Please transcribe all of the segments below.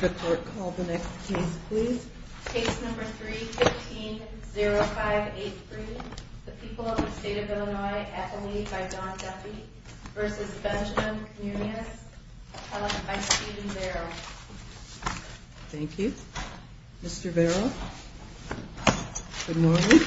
The court called the next case, please. Case number 3-15-0583. The people of the state of Illinois at the lead by Don Duffy vs. Benjamin Munoz, held by Steven Vero. Thank you. Mr. Vero, good morning.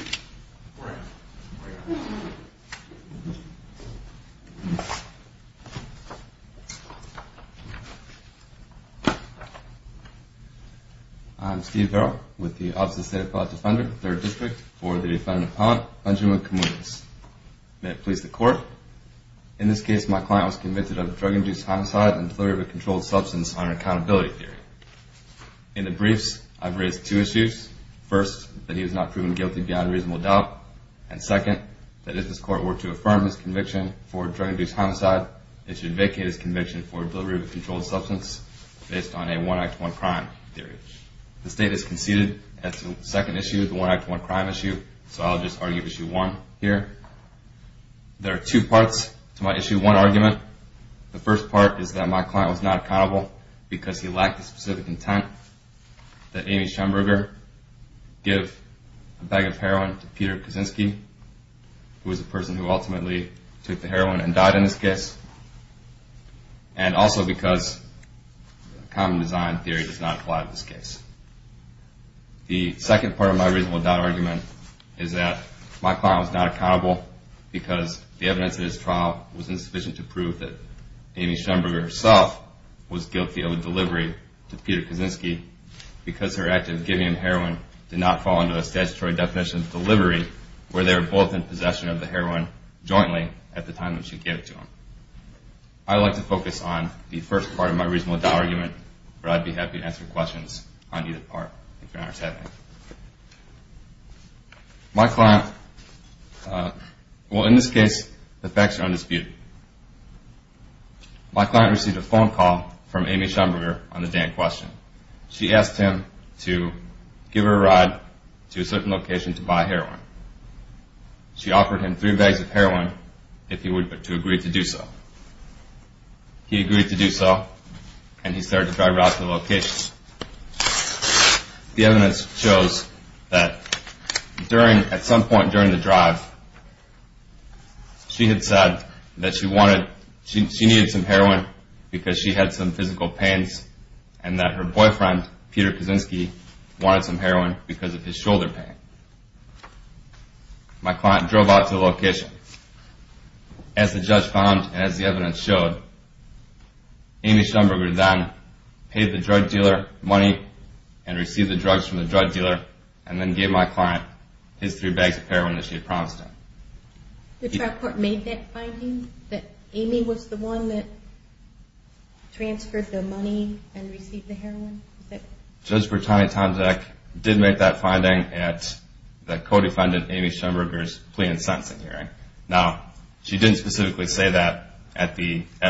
I'm Steve Vero with the Office of the State Appellate Defender, 3rd District, for the defendant, Benjamin Munoz. May it please the court. In this case, my client was convicted of drug-induced homicide and delivery of a controlled substance under accountability theory. In the briefs, I've raised two issues. First, that he was not proven guilty beyond reasonable doubt. And second, that if this court were to affirm his conviction for drug-induced homicide, it should vacate his conviction for delivery of a controlled substance based on a one-act-one-crime theory. The state has conceded at the second issue, the one-act-one-crime issue, so I'll just argue issue one here. There are two parts to my issue one argument. The first part is that my client was not accountable because he lacked the specific intent that Amy Schemberger give a bag of heroin to Peter Kaczynski, who was the person who ultimately took the heroin and died in this case. And also because common design theory does not apply to this case. The second part of my reasonable doubt argument is that my client was not accountable because the evidence in this trial was insufficient to prove that Amy Schemberger herself was guilty of delivery to Peter Kaczynski because her act of giving him heroin did not fall under the statutory definition of delivery where they were both in possession of the heroin jointly at the time that she gave it to him. I'd like to focus on the first part of my reasonable doubt argument, but I'd be happy to answer questions on either part if you're honest with me. My client, well in this case the facts are undisputed. My client received a phone call from Amy Schemberger on the day in question. She asked him to give her a ride to a certain location to buy heroin. She offered him three bags of heroin if he agreed to do so. He agreed to do so and he started to drive her out to the location. The evidence shows that at some point during the drive she had said that she needed some heroin because she had some physical pains and that her boyfriend, Peter Kaczynski, wanted some heroin because of his shoulder pain. My client drove out to the location. As the judge found and as the evidence showed, Amy Schemberger then paid the drug dealer money and received the drugs from the drug dealer and then gave my client his three bags of heroin that she had promised him. The trial court made that finding that Amy was the one that transferred the money and received the heroin? Judge Bertani-Tomczak did make that finding at the co-defendant Amy Schemberger's plea and sentencing hearing. Now she didn't specifically say that at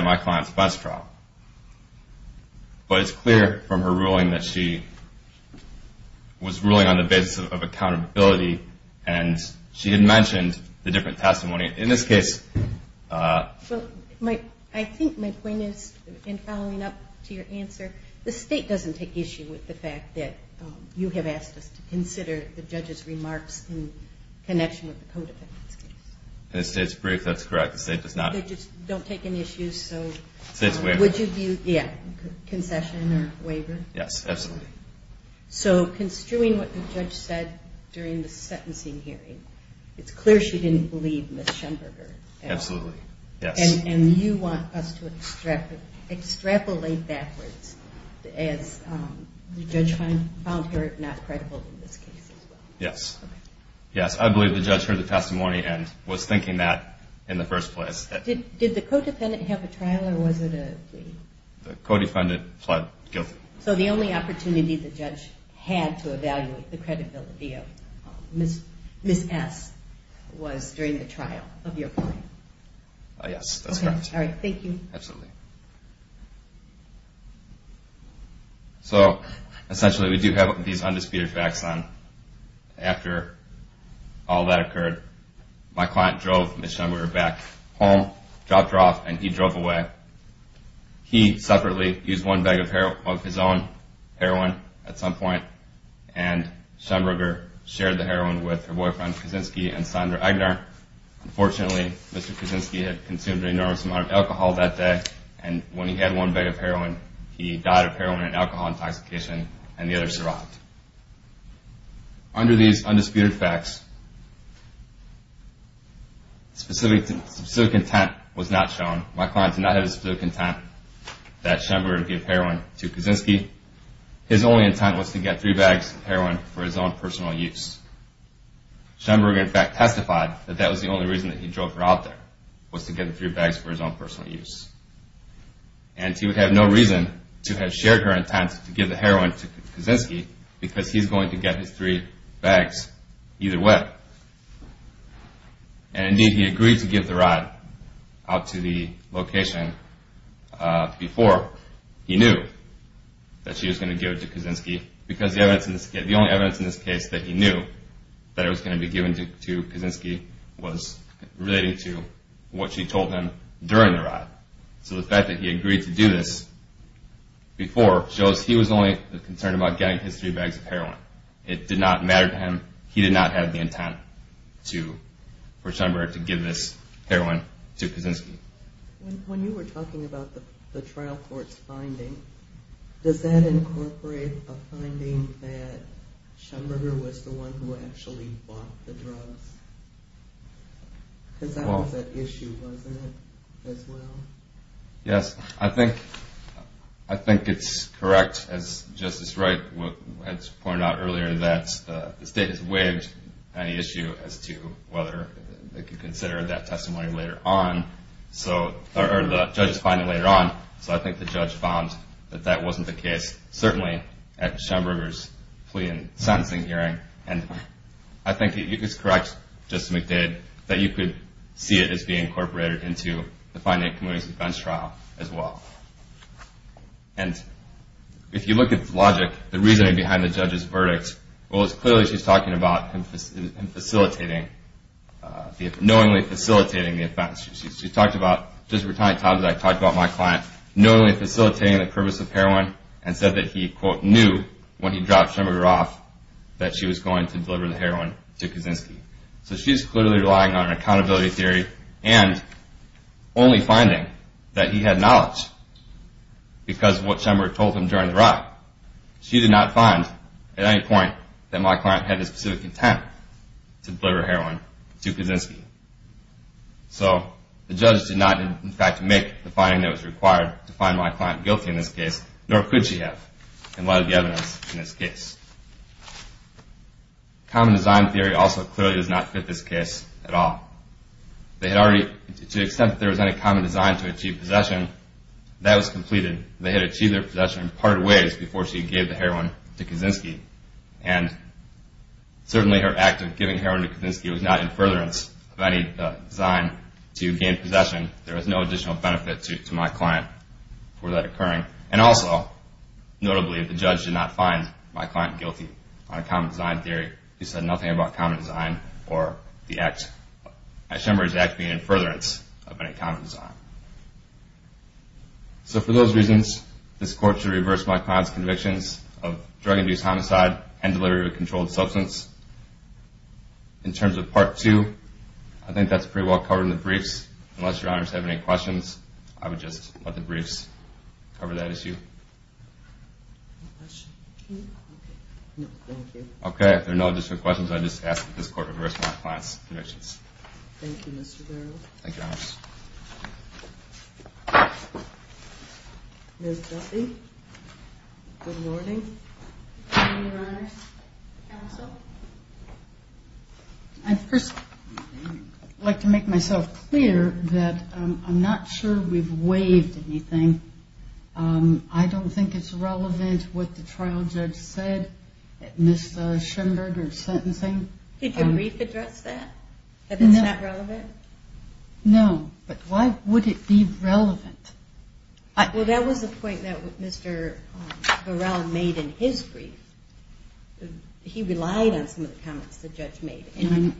my client's bus trial, but it's clear from her ruling that she was ruling on the basis of accountability and she had mentioned the different testimony. I think my point is in following up to your answer, the state doesn't take issue with the fact that you have asked us to consider the judge's remarks in connection with the co-defendant's case. In the state's brief, that's correct. They just don't take any issue, so would you view concession or waiver? Yes, absolutely. So construing what the judge said during the sentencing hearing, it's clear she didn't believe Ms. Schemberger. Absolutely, yes. And you want us to extrapolate backwards as the judge found her not credible in this case as well. Yes, yes. I believe the judge heard the testimony and was thinking that in the first place. Did the co-defendant have a trial or was it a plea? The co-defendant pled guilty. So the only opportunity the judge had to evaluate the credibility of Ms. S. was during the trial of your client. Yes, that's correct. Thank you. Absolutely. So essentially we do have these undisputed facts on. After all that occurred, my client drove Ms. Schemberger back home, dropped her off, and he drove away. He separately used one bag of his own heroin at some point, and Schemberger shared the heroin with her boyfriend Kaczynski and Sondra Egner. Unfortunately, Mr. Kaczynski had consumed an enormous amount of alcohol that day, and when he had one bag of heroin, he died of heroin and alcohol intoxication, and the other survived. Under these undisputed facts, specific intent was not shown. My client did not have the specific intent that Schemberger give heroin to Kaczynski. His only intent was to get three bags of heroin for his own personal use. Schemberger, in fact, testified that that was the only reason that he drove her out there, was to get the three bags for his own personal use. And he would have no reason to have shared her intent to give the heroin to Kaczynski because he's going to get his three bags either way. And indeed, he agreed to give the rod out to the location before he knew that she was going to give it to Kaczynski, because the only evidence in this case that he knew that it was going to be given to Kaczynski was relating to what she told him during the ride. So the fact that he agreed to do this before shows he was only concerned about getting his three bags of heroin. It did not matter to him. He did not have the intent for Schemberger to give this heroin to Kaczynski. When you were talking about the trial court's finding, does that incorporate a finding that Schemberger was the one who actually bought the drugs? Because that was at issue, wasn't it, as well? Yes, I think it's correct, as Justice Wright had pointed out earlier, that the state has waived any issue as to whether they could consider that testimony later on, or the judge's finding later on. So I think the judge found that that wasn't the case, certainly at Schemberger's plea and sentencing hearing. And I think it is correct, Justice McDade, that you could see it as being incorporated into the finding of the community's defense trial, as well. And if you look at the logic, the reasoning behind the judge's verdict, well, it's clearly she's talking about him knowingly facilitating the offense. She talked about, just a retirement time, I talked about my client knowingly facilitating the purpose of heroin and said that he, quote, knew when he dropped Schemberger off that she was going to deliver the heroin to Kaczynski. So she's clearly relying on an accountability theory and only finding that he had knowledge. Because what Schemberger told him during the ride, she did not find at any point that my client had the specific intent to deliver heroin to Kaczynski. So the judge did not, in fact, make the finding that was required to find my client guilty in this case, nor could she have in light of the evidence in this case. Common design theory also clearly does not fit this case at all. They had already, to the extent that there was any common design to achieve possession, that was completed. They had achieved their possession in part ways before she gave the heroin to Kaczynski. And certainly her act of giving heroin to Kaczynski was not in furtherance of any design to gain possession. There was no additional benefit to my client for that occurring. And also, notably, the judge did not find my client guilty on a common design theory. He said nothing about common design or Schemberger's act being in furtherance of any common design. So for those reasons, this court should reverse my client's convictions of drug abuse, homicide, and delivery of a controlled substance. In terms of Part 2, I think that's pretty well covered in the briefs. Unless Your Honors have any questions, I would just let the briefs cover that issue. Okay, if there are no additional questions, I would just ask that this court reverse my client's convictions. Thank you, Mr. Barrow. Thank you, Your Honors. Ms. Duffy, good morning. Good morning, Your Honors. Counsel? I'd first like to make myself clear that I'm not sure we've waived anything. I don't think it's relevant what the trial judge said, Ms. Schemberger's sentencing. Did your brief address that, that it's not relevant? No, but why would it be relevant? Well, that was the point that Mr. Barrow made in his brief. He relied on some of the comments the judge made, and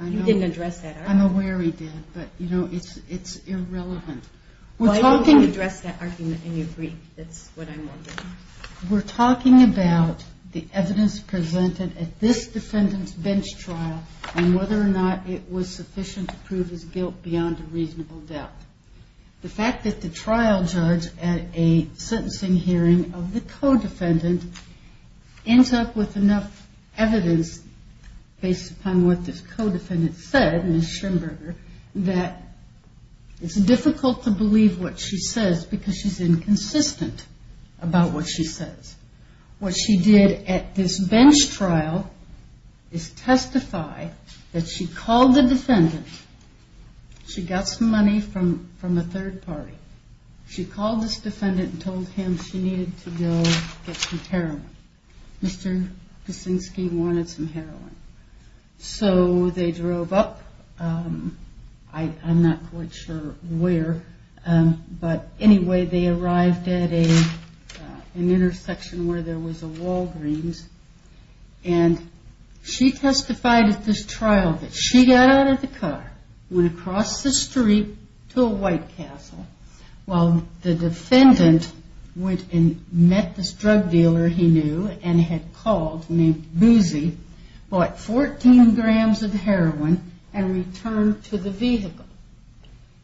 you didn't address that argument. I'm aware he did, but, you know, it's irrelevant. Why don't you address that argument in your brief? That's what I'm wondering. We're talking about the evidence presented at this defendant's bench trial and whether or not it was sufficient to prove his guilt beyond a reasonable doubt. The fact that the trial judge, at a sentencing hearing of the co-defendant, ends up with enough evidence based upon what this co-defendant said, Ms. Schemberger, that it's difficult to believe what she says because she's inconsistent about what she says. What she did at this bench trial is testify that she called the defendant, she got some money from a third party. She called this defendant and told him she needed to go get some heroin. Mr. Kuczynski wanted some heroin. So they drove up, I'm not quite sure where, but anyway, they arrived at an intersection where there was a Walgreens, and she testified at this trial that she got out of the car, went across the street to a White Castle, while the defendant went and met this drug dealer he knew and had called named Boozy, bought 14 grams of heroin, and returned to the vehicle.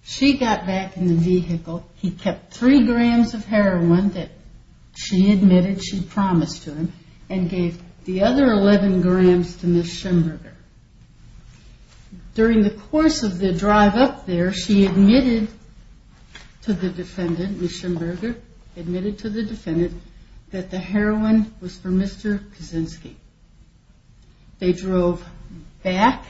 She got back in the vehicle. He kept three grams of heroin that she admitted she promised to him, and gave the other 11 grams to Ms. Schemberger. During the course of the drive up there, she admitted to the defendant, Ms. Schemberger admitted to the defendant, that the heroin was for Mr. Kuczynski. They drove back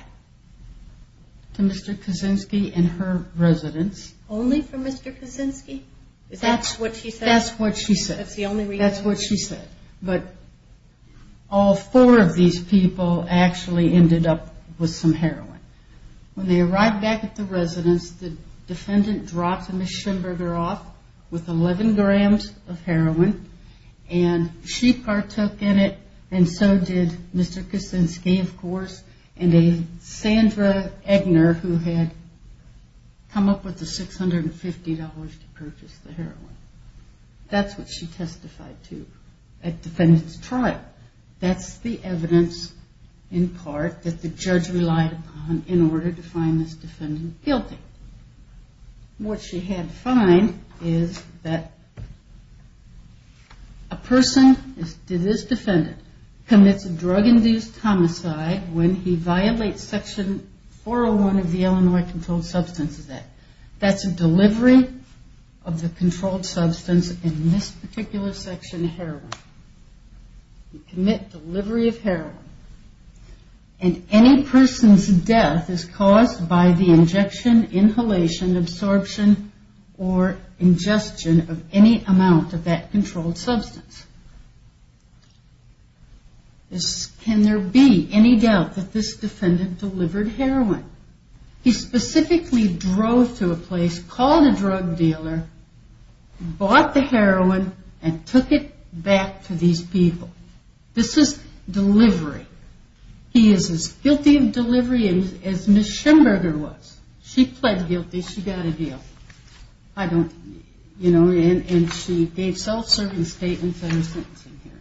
to Mr. Kuczynski and her residence. Only for Mr. Kuczynski? That's what she said. That's what she said. That's the only reason. That's what she said. But all four of these people actually ended up with some heroin. When they arrived back at the residence, the defendant dropped Ms. Schemberger off with 11 grams of heroin, and she partook in it, and so did Mr. Kuczynski, of course, and a Sandra Eggner who had come up with the $650 to purchase the heroin. That's what she testified to at defendant's trial. That's the evidence, in part, that the judge relied upon in order to find this defendant guilty. What she had to find is that a person, this defendant, commits a drug-induced homicide when he violates Section 401 of the Illinois Controlled Substances Act. That's a delivery of the controlled substance in this particular section of heroin. You commit delivery of heroin, and any person's death is caused by the injection, inhalation, absorption, or ingestion of any amount of that controlled substance. Can there be any doubt that this defendant delivered heroin? He specifically drove to a place, called a drug dealer, bought the heroin, and took it back to these people. This is delivery. He is as guilty of delivery as Ms. Schemberger was. She pled guilty. She got a deal. I don't, you know, and she gave self-serving statements on her sentencing here.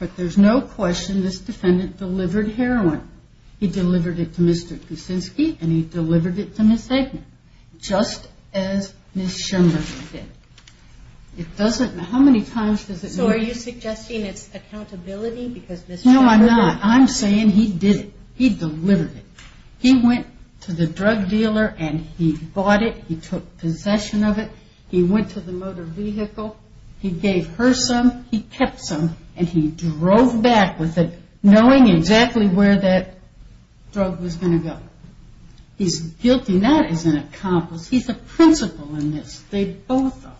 But there's no question this defendant delivered heroin. He delivered it to Mr. Kuczynski, and he delivered it to Ms. Eggman, just as Ms. Schemberger did. It doesn't, how many times does it matter? So are you suggesting it's accountability because Ms. Schemberger... No, I'm not. I'm saying he did it. He delivered it. He went to the drug dealer, and he bought it. He took possession of it. He went to the motor vehicle. He gave her some. He kept some, and he drove back with it, knowing exactly where that drug was going to go. He's guilty not as an accomplice. He's a principal in this. They both are.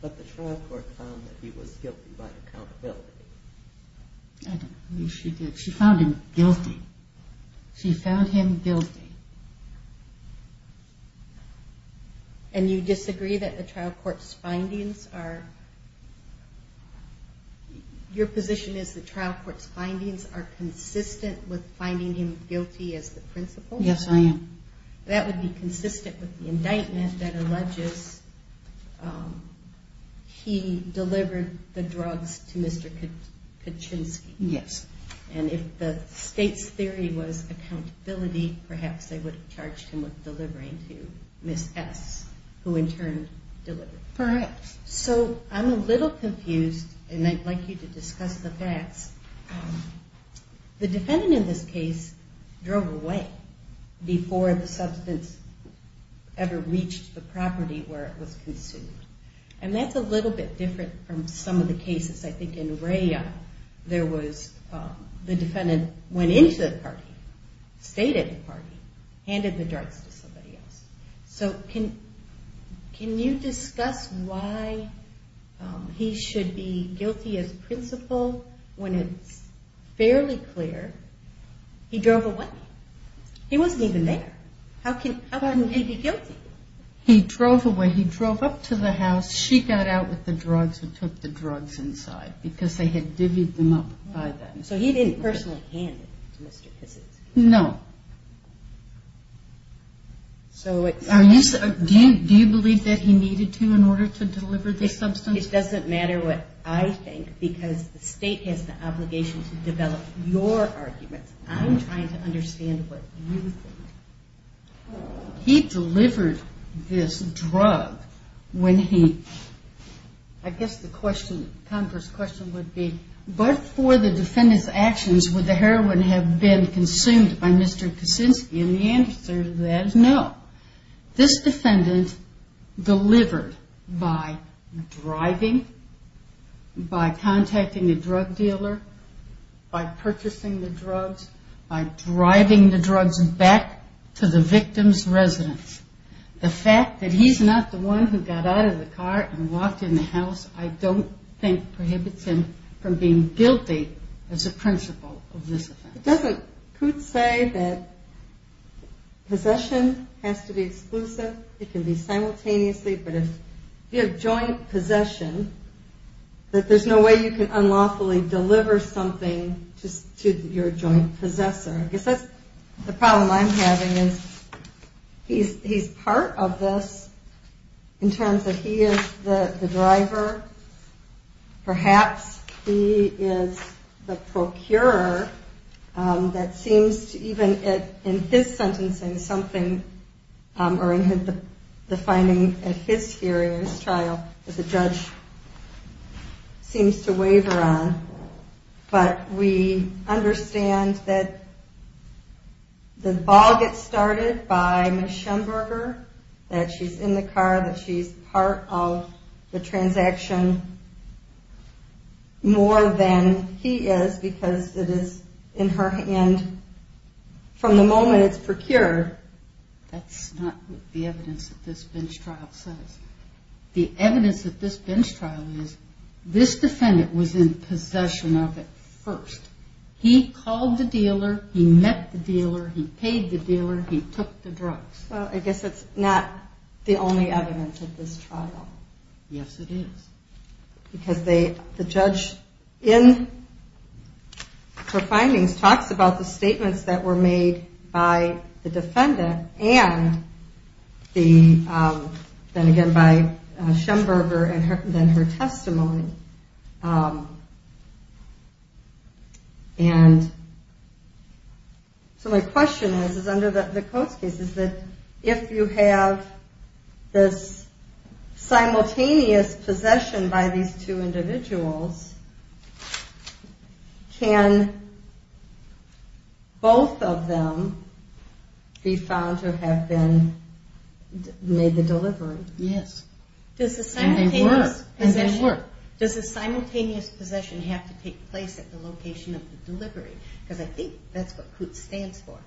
But the trial court found that he was guilty by accountability. I don't believe she did. She found him guilty. She found him guilty. Okay. And you disagree that the trial court's findings are... Your position is the trial court's findings are consistent with finding him guilty as the principal? Yes, I am. That would be consistent with the indictment that alleges he delivered the drugs to Mr. Kuczynski. Yes. And if the state's theory was accountability, perhaps they would have charged him with delivering to Ms. S., who in turn delivered. Correct. So I'm a little confused, and I'd like you to discuss the facts. The defendant in this case drove away before the substance ever reached the property where it was consumed. And that's a little bit different from some of the cases. I think in Rhea, the defendant went into the party, stayed at the party, handed the drugs to somebody else. So can you discuss why he should be guilty as principal when it's fairly clear he drove away? He wasn't even there. How can he be guilty? He drove away. He drove up to the house. She got out with the drugs and took the drugs inside because they had divvied them up by them. So he didn't personally hand them to Mr. Kuczynski? No. Do you believe that he needed to in order to deliver the substance? It doesn't matter what I think because the state has the obligation to develop your arguments. I'm trying to understand what you think. He delivered this drug when he, I guess the Congress question would be, before the defendant's actions would the heroin have been consumed by Mr. Kuczynski? And the answer to that is no. This defendant delivered by driving, by contacting the drug dealer, by purchasing the drugs, by driving the drugs back to the victim's residence. The fact that he's not the one who got out of the car and walked in the house, I don't think prohibits him from being guilty as a principal of this offense. Doesn't Kutz say that possession has to be exclusive? It can be simultaneously, but if you have joint possession, that there's no way you can unlawfully deliver something to your joint possessor. I guess that's the problem I'm having is he's part of this in terms that he is the driver. Perhaps he is the procurer that seems to even in his sentencing something, or in the finding at his hearing, his trial, that the judge seems to waver on. But we understand that the ball gets started by Ms. Schemberger, that she's in the car, that she's part of the transaction more than he is because it is in her hand from the moment it's procured. That's not what the evidence of this bench trial says. The evidence of this bench trial is this defendant was in possession of it first. He called the dealer, he met the dealer, he paid the dealer, he took the drugs. Well, I guess it's not the only evidence of this trial. Yes, it is. Because the judge in her findings talks about the statements that were made by the defendant and then again by Schemberger and then her testimony. And so my question is, is under the Coates case, is that if you have this simultaneous possession by these two individuals, can both of them be found to have made the delivery? Yes, and they were. Does the simultaneous possession have to take place at the location of the delivery? Because I think that's what Coates stands for.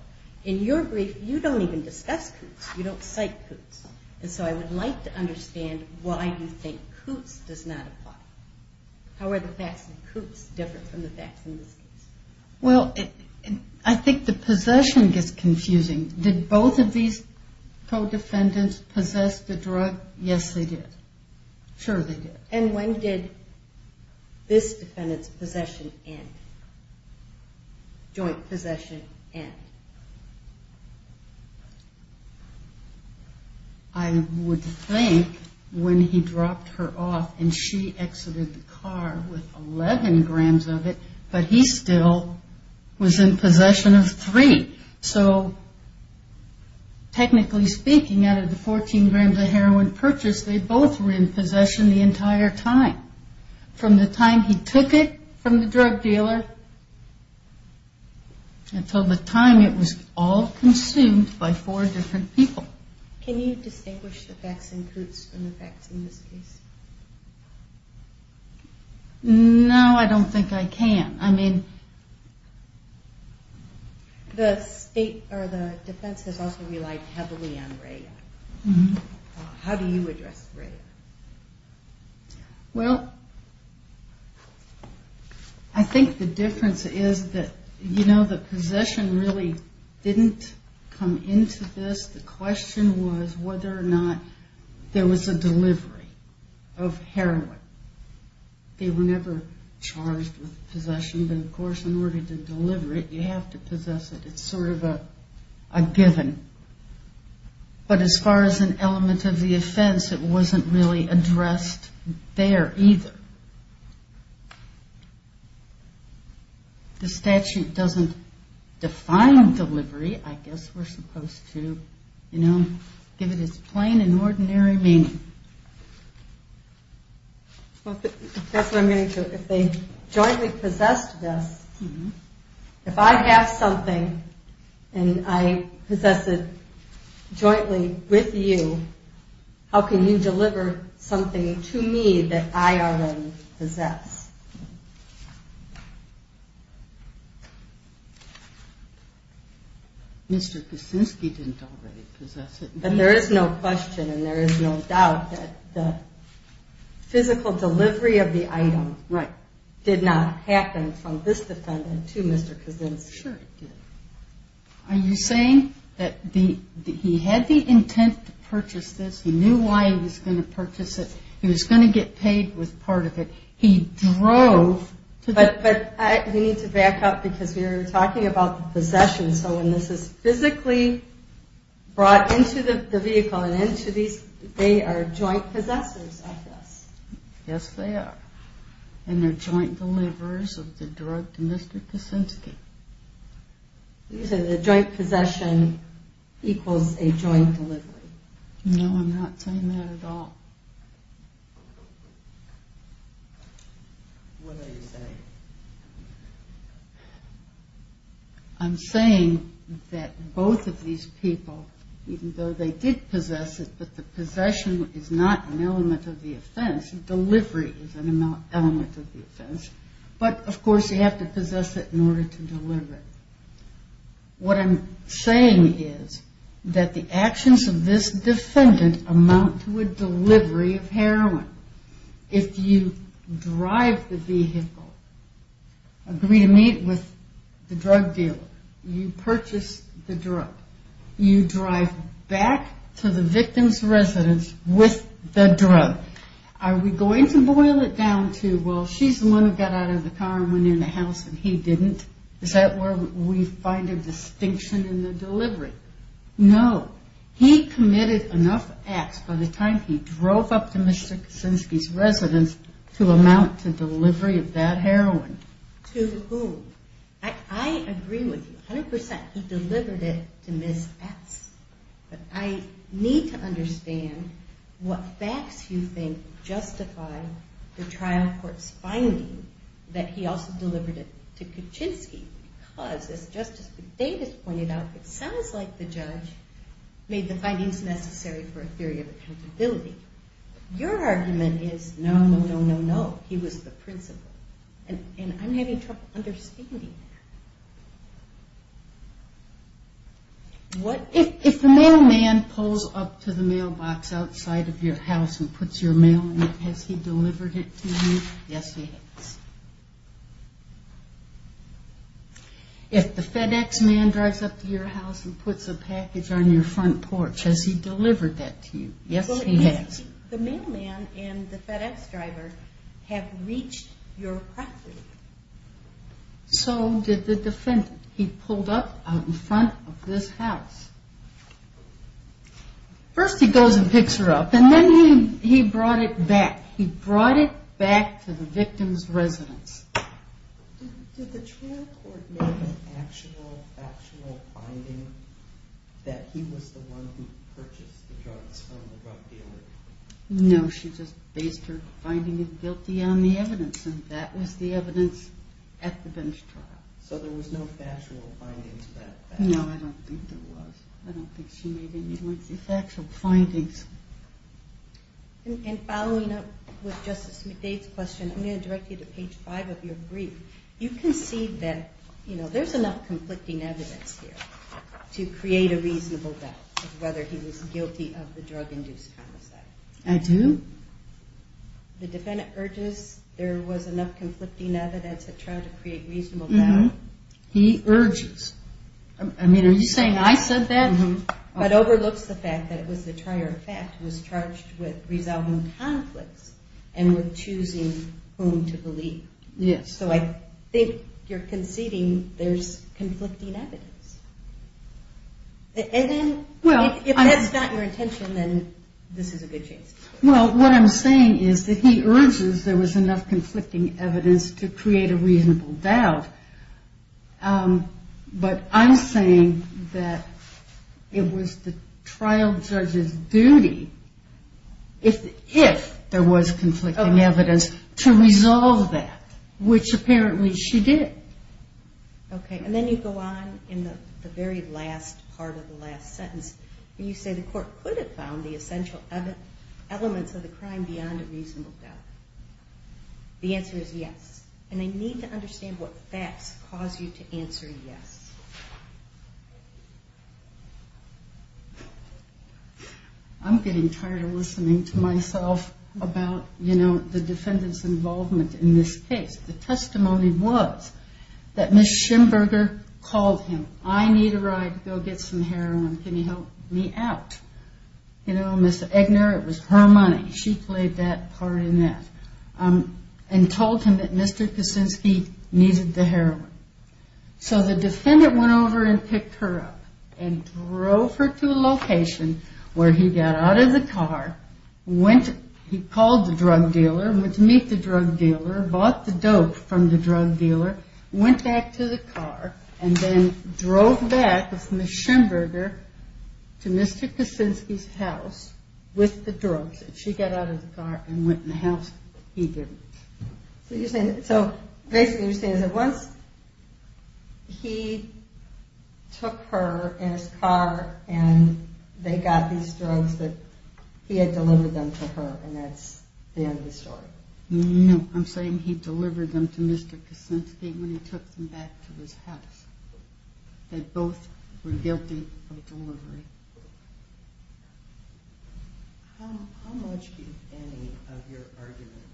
In your brief, you don't even discuss Coates. You don't cite Coates. And so I would like to understand why you think Coates does not apply. How are the facts in Coates different from the facts in this case? Well, I think the possession gets confusing. Did both of these co-defendants possess the drug? Yes, they did. Sure, they did. And when did this defendant's possession end, joint possession end? I would think when he dropped her off and she exited the car with 11 grams of it, but he still was in possession of three. So technically speaking, out of the 14 grams of heroin purchased, they both were in possession the entire time, from the time he took it from the drug dealer until the time it was all consumed by four different people. Can you distinguish the facts in Coates from the facts in this case? No, I don't think I can. The state or the defense has also relied heavily on Ray. How do you address Ray? Well, I think the difference is that, you know, the possession really didn't come into this. The question was whether or not there was a delivery of heroin. They were never charged with possession, but of course in order to deliver it you have to possess it. It's sort of a given. But as far as an element of the offense, it wasn't really addressed there either. The statute doesn't define delivery. I guess we're supposed to, you know, give it its plain and ordinary meaning. That's what I'm getting to. If they jointly possessed this, if I have something and I possess it jointly with you, how can you deliver something to me that I already possess? Mr. Kuczynski didn't already possess it. But there is no question and there is no doubt that the physical delivery of the item did not happen from this defendant to Mr. Kuczynski. Sure it didn't. Are you saying that he had the intent to purchase this? He knew why he was going to purchase it. He was going to get paid with part of it. He drove to the- But we need to back up because we were talking about possession. So when this is physically brought into the vehicle and into these, they are joint possessors of this. Yes, they are. And they're joint deliverers of the drug to Mr. Kuczynski. You're saying the joint possession equals a joint delivery. No, I'm not saying that at all. What are you saying? I'm saying that both of these people, even though they did possess it, but the possession is not an element of the offense. Delivery is an element of the offense. But, of course, you have to possess it in order to deliver it. What I'm saying is that the actions of this defendant amount to a delivery of heroin. If you drive the vehicle, agree to meet with the drug dealer, you purchase the drug, you drive back to the victim's residence with the drug, are we going to boil it down to, well, she's the one who got out of the car and went in the house and he didn't? Is that where we find a distinction in the delivery? No. He committed enough acts by the time he drove up to Mr. Kuczynski's residence to amount to delivery of that heroin. To whom? I agree with you 100%. He delivered it to Ms. S. But I need to understand what facts you think justify the trial court's finding that he also delivered it to Kuczynski. Because, as Justice McDavis pointed out, it sounds like the judge made the findings necessary for a theory of accountability. Your argument is no, no, no, no, no. He was the principal. And I'm having trouble understanding that. If the mailman pulls up to the mailbox outside of your house and puts your mail in, has he delivered it to you? Yes, he has. If the FedEx man drives up to your house and puts a package on your front porch, has he delivered that to you? Yes, he has. The mailman and the FedEx driver have reached your property. So did the defendant. He pulled up out in front of this house. First he goes and picks her up, and then he brought it back. He brought it back to the victim's residence. Did the trial court make an actual factual finding that he was the one who purchased the drugs from the drug dealer? No, she just based her finding of guilty on the evidence, and that was the evidence at the bench trial. So there was no factual finding to that fact? No, I don't think there was. I don't think she made any factual findings. Following up with Justice McDade's question, I'm going to direct you to page 5 of your brief. You concede that there's enough conflicting evidence here to create a reasonable doubt of whether he was guilty of the drug-induced homicide. I do. The defendant urges there was enough conflicting evidence to try to create reasonable doubt. He urges. Are you saying I said that? But overlooks the fact that it was the trier of fact who was charged with resolving conflicts and with choosing whom to believe. Yes. So I think you're conceding there's conflicting evidence. And then if that's not your intention, then this is a good chance. Well, what I'm saying is that he urges there was enough conflicting evidence to create a reasonable doubt. But I'm saying that it was the trial judge's duty, if there was conflicting evidence, to resolve that, which apparently she did. Okay. And then you go on in the very last part of the last sentence where you say the court could have found the essential elements of the crime beyond a reasonable doubt. The answer is yes. And I need to understand what facts cause you to answer yes. I'm getting tired of listening to myself about, you know, the defendant's involvement in this case. The testimony was that Ms. Schimberger called him, I need a ride to go get some heroin. Can you help me out? You know, Ms. Eggner, it was her money. She played that part in that. And told him that Mr. Kaczynski needed the heroin. So the defendant went over and picked her up and drove her to a location where he got out of the car, he called the drug dealer, went to meet the drug dealer, bought the dope from the drug dealer, went back to the car, and then drove back with Ms. Schimberger to Mr. Kaczynski's house with the drugs. If she got out of the car and went in the house, he didn't. So basically you're saying that once he took her in his car and they got these drugs that he had delivered them to her, and that's the end of the story. No, I'm saying he delivered them to Mr. Kaczynski when he took them back to his house. They both were guilty of delivery. How much, if any, of your argument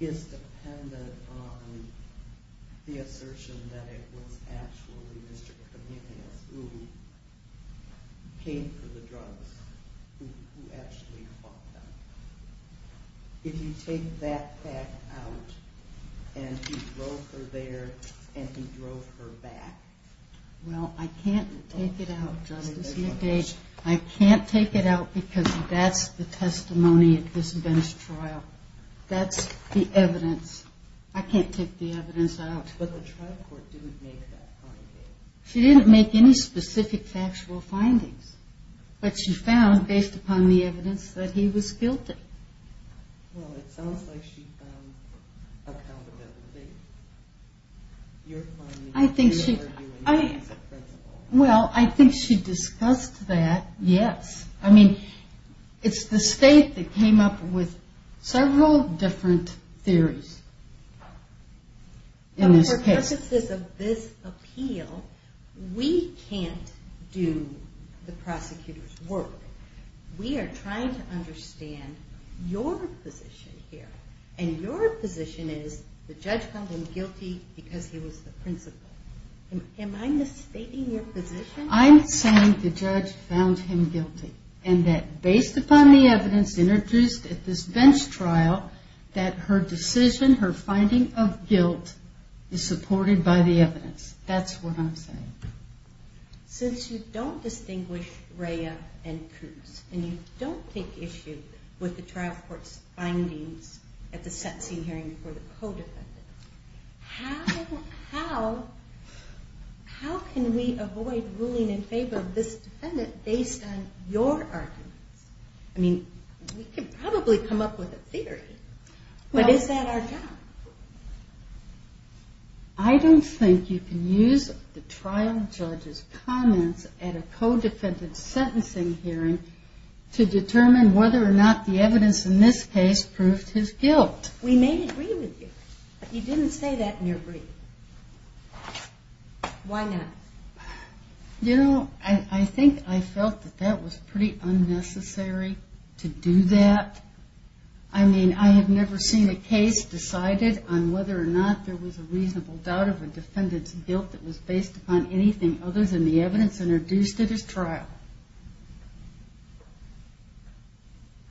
is dependent on the assertion that it was actually Mr. Kamenius who came for the drugs, who actually bought them? If you take that fact out, and he drove her there and he drove her back? Well, I can't take it out, Justice McDade. I can't take it out because that's the testimony at this Venice trial. That's the evidence. I can't take the evidence out. But the trial court didn't make that finding. She didn't make any specific factual findings, but she found, based upon the evidence, that he was guilty. Well, it sounds like she found accountability. You're arguing that as a principle. Well, I think she discussed that, yes. I mean, it's the state that came up with several different theories in this case. Now, for purposes of this appeal, we can't do the prosecutor's work. We are trying to understand your position here, and your position is the judge found him guilty because he was the principal. Am I misstating your position? I'm saying the judge found him guilty, and that based upon the evidence introduced at this bench trial, that her decision, her finding of guilt, is supported by the evidence. That's what I'm saying. Since you don't distinguish Rhea and Coops, and you don't take issue with the trial court's findings at the sentencing hearing for the codefendant, how can we avoid ruling in favor of this defendant based on your arguments? I mean, we could probably come up with a theory, but is that our job? I don't think you can use the trial judge's comments at a codefendant's sentencing hearing to determine whether or not the evidence in this case proved his guilt. We may agree with you, but you didn't say that in your brief. Why not? You know, I think I felt that that was pretty unnecessary to do that. I mean, I have never seen a case decided on whether or not there was a reasonable doubt of a defendant's guilt that was based upon anything other than the evidence introduced at his trial.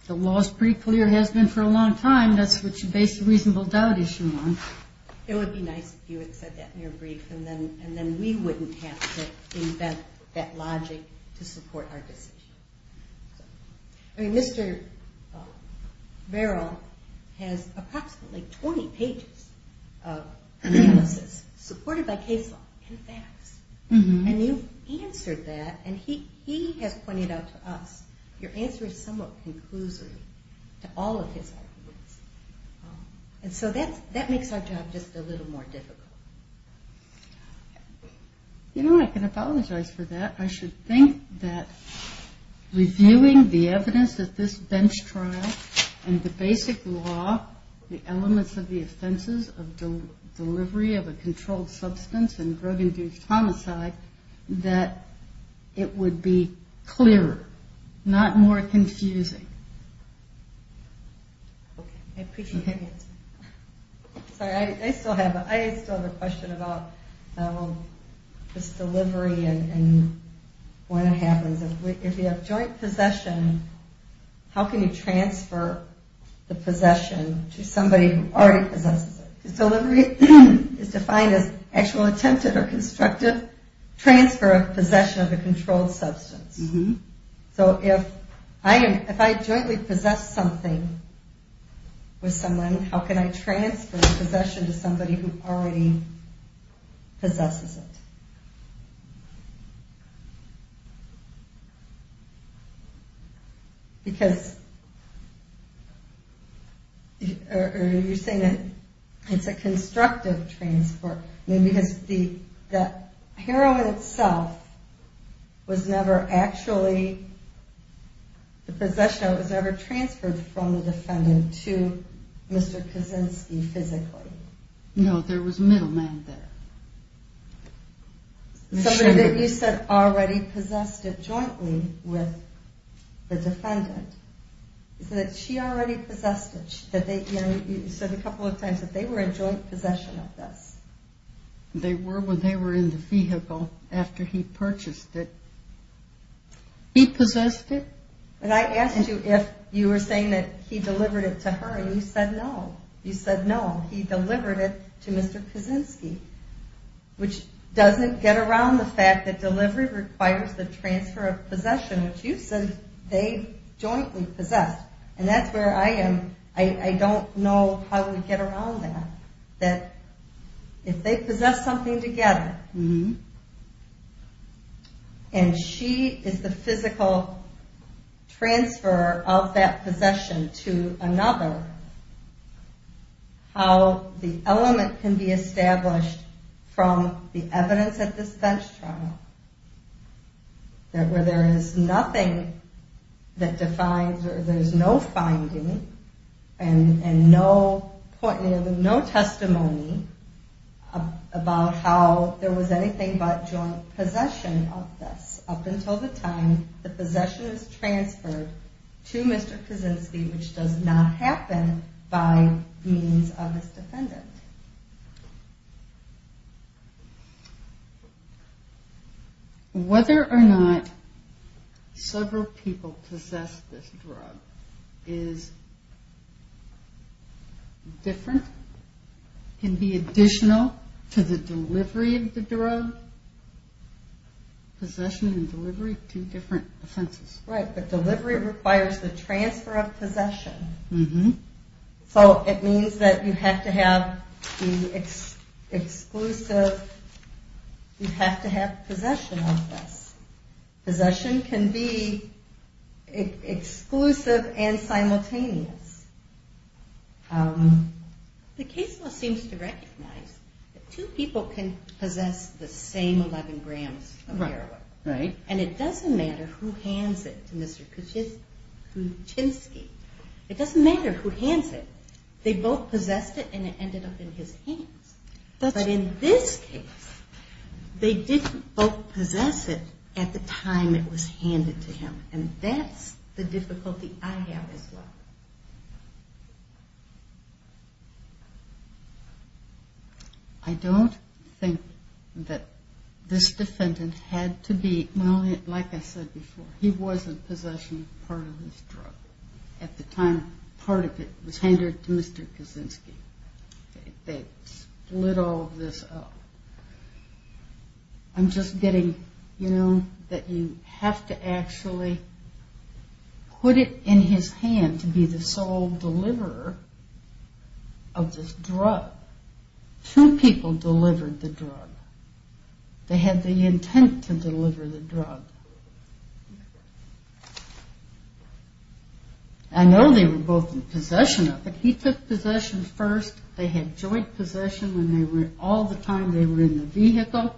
The law is pretty clear, has been for a long time. That's what you base a reasonable doubt issue on. It would be nice if you had said that in your brief, and then we wouldn't have to invent that logic to support our decision. I mean, Mr. Barrow has approximately 20 pages of analysis supported by case law and facts. And you've answered that, and he has pointed out to us, your answer is somewhat conclusory to all of his arguments. And so that makes our job just a little more difficult. You know, I can apologize for that. I should think that reviewing the evidence at this bench trial and the basic law, the elements of the offenses of delivery of a controlled substance and drug-induced homicide, that it would be clearer, not more confusing. Okay. I appreciate that answer. Sorry, I still have a question about this delivery and when it happens. If you have joint possession, how can you transfer the possession to somebody who already possesses it? Delivery is defined as actual attempted or constructive transfer of possession of a controlled substance. So if I jointly possess something with someone, how can I transfer the possession to somebody who already possesses it? Because you're saying that it's a constructive transport. I mean, because the heroin itself was never actually, the possession of it was never transferred from the defendant to Mr. Kaczynski physically. No, there was a middleman there. Somebody that you said already possessed it jointly with the defendant. So that she already possessed it. You said a couple of times that they were in joint possession of this. They were when they were in the vehicle after he purchased it. He possessed it? And I asked you if you were saying that he delivered it to her and you said no. You said no, he delivered it to Mr. Kaczynski, which doesn't get around the fact that delivery requires the transfer of possession, which you said they jointly possessed. And that's where I am, I don't know how we get around that. That if they possess something together, and she is the physical transfer of that possession to another, how the element can be established from the evidence at this bench trial, where there is nothing that defines, there is no finding and no testimony about how there was anything but joint possession of this. Up until the time the possession is transferred to Mr. Kaczynski, which does not happen by means of his defendant. Whether or not several people possess this drug is different, can be additional to the delivery of the drug, possession and delivery, two different offenses. Right, but delivery requires the transfer of possession. So it means that you have to have the exclusive, you have to have possession of this. Possession can be exclusive and simultaneous. The case law seems to recognize that two people can possess the same 11 grams of heroin. Right. And it doesn't matter who hands it to Mr. Kaczynski. It doesn't matter who hands it. They both possessed it and it ended up in his hands. But in this case, they didn't both possess it at the time it was handed to him. And that's the difficulty I have as well. I don't think that this defendant had to be, Well, like I said before, he wasn't possessing part of this drug. At the time, part of it was handed to Mr. Kaczynski. They split all of this up. I'm just getting, you know, that you have to actually put it in his hand to be the sole deliverer of this drug. Two people delivered the drug. They had the intent to deliver the drug. I know they were both in possession of it. He took possession first. They had joint possession when they were, all the time they were in the vehicle.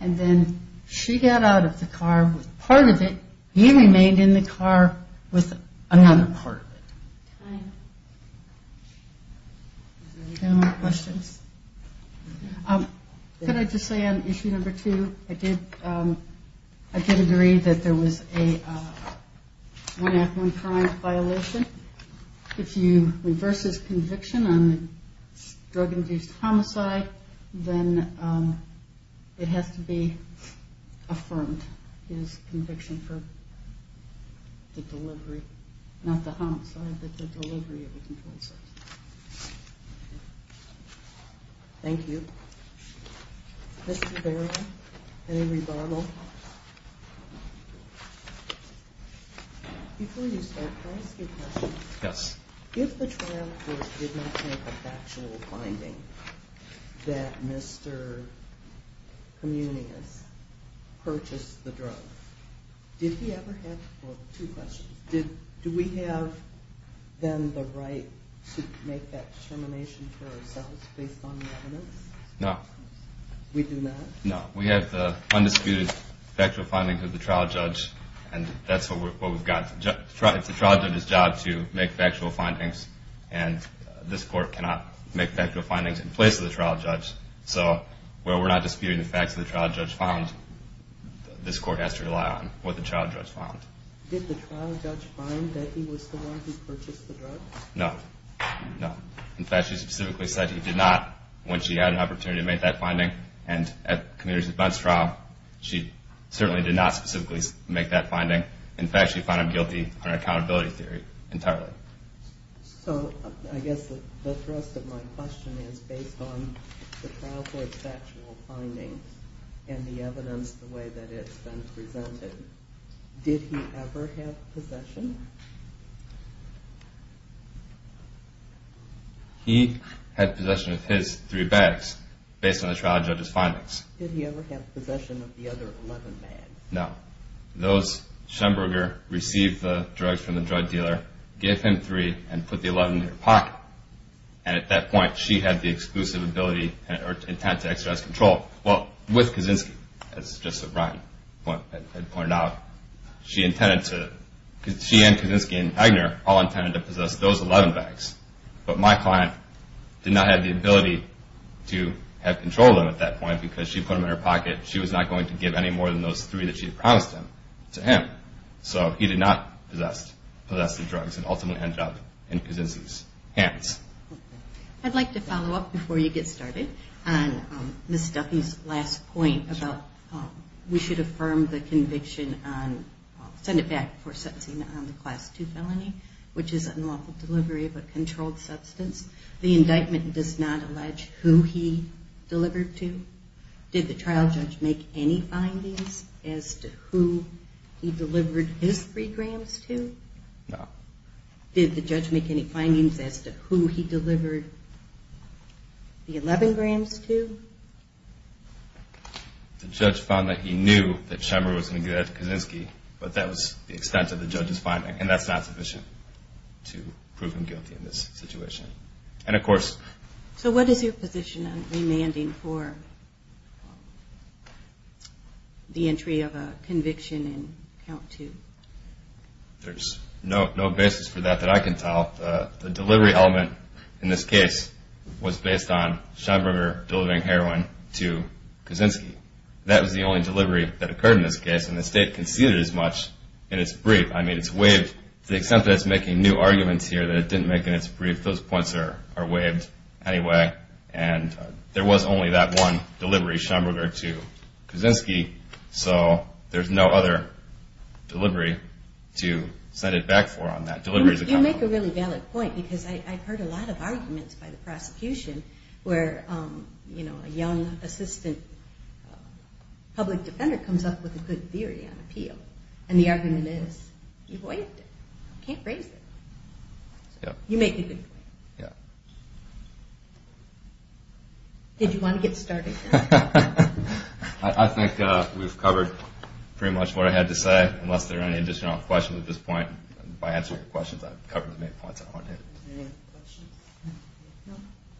And then she got out of the car with part of it. He remained in the car with another part of it. Time. Any more questions? Could I just say on issue number two, I did agree that there was a one act, one crime violation. If you reverse his conviction on drug-induced homicide, then it has to be affirmed his conviction for the delivery, not the homicide, but the delivery of the compulsive. Thank you. Mr. Barrow, any rebuttal? Before you start, can I ask you a question? Yes. If the trial court did not make a factual finding that Mr. Communius purchased the drug, did he ever have, well, two questions. Do we have then the right to make that determination for ourselves based on the evidence? No. We do not? No. We have the undisputed factual findings of the trial judge, and that's what we've got. It's the trial judge's job to make factual findings, and this court cannot make factual findings in place of the trial judge. So where we're not disputing the facts that the trial judge found, this court has to rely on what the trial judge found. Did the trial judge find that he was the one who purchased the drug? No. No. In fact, she specifically said he did not when she had an opportunity to make that finding, and at Communius' defense trial, she certainly did not specifically make that finding. In fact, she found him guilty under accountability theory entirely. So I guess the thrust of my question is based on the trial court's factual findings and the evidence the way that it's been presented. Did he ever have possession? He had possession of his three bags based on the trial judge's findings. Did he ever have possession of the other 11 bags? No. Those Schemberger received the drugs from the drug dealer, gave him three, and put the 11 in her pocket, and at that point she had the exclusive ability or intent to exercise control. Well, with Kaczynski, as Justice O'Brien had pointed out, she and Kaczynski and Wagner all intended to possess those 11 bags, but my client did not have the ability to have control of them at that point because she put them in her pocket. She was not going to give any more than those three that she had promised him to him. So he did not possess the drugs and ultimately ended up in Kaczynski's hands. I'd like to follow up before you get started on Ms. Duffy's last point about we should affirm the conviction on, send it back before sentencing on the Class II felony, which is unlawful delivery of a controlled substance. The indictment does not allege who he delivered to. Did the trial judge make any findings as to who he delivered his three grams to? No. Did the judge make any findings as to who he delivered the 11 grams to? The judge found that he knew that Schemer was going to get at Kaczynski, but that was the extent of the judge's finding, and that's not sufficient to prove him guilty in this situation. And, of course, So what is your position on remanding for the entry of a conviction in Count II? There's no basis for that that I can tell. The delivery element in this case was based on Schemberger delivering heroin to Kaczynski. That was the only delivery that occurred in this case, and the State conceded as much in its brief. I mean, it's waived to the extent that it's making new arguments here that it didn't make in its brief. Those points are waived anyway, and there was only that one delivery, Schemberger to Kaczynski, so there's no other delivery to set it back for on that. You make a really valid point, because I've heard a lot of arguments by the prosecution where a young assistant public defender comes up with a good theory on appeal, and the argument is you waived it. You can't raise it. You make a good point. Did you want to get started? I think we've covered pretty much what I had to say, unless there are any additional questions at this point. If I answer your questions, I've covered as many points as I wanted to.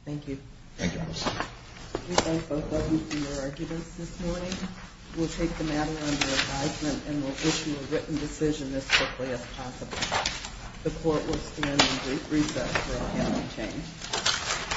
Thank you. Thank you, Melissa. We thank both of you for your arguments this morning. We'll take the matter under advisement and we'll issue a written decision as quickly as possible. The court will stand in brief recess for any change.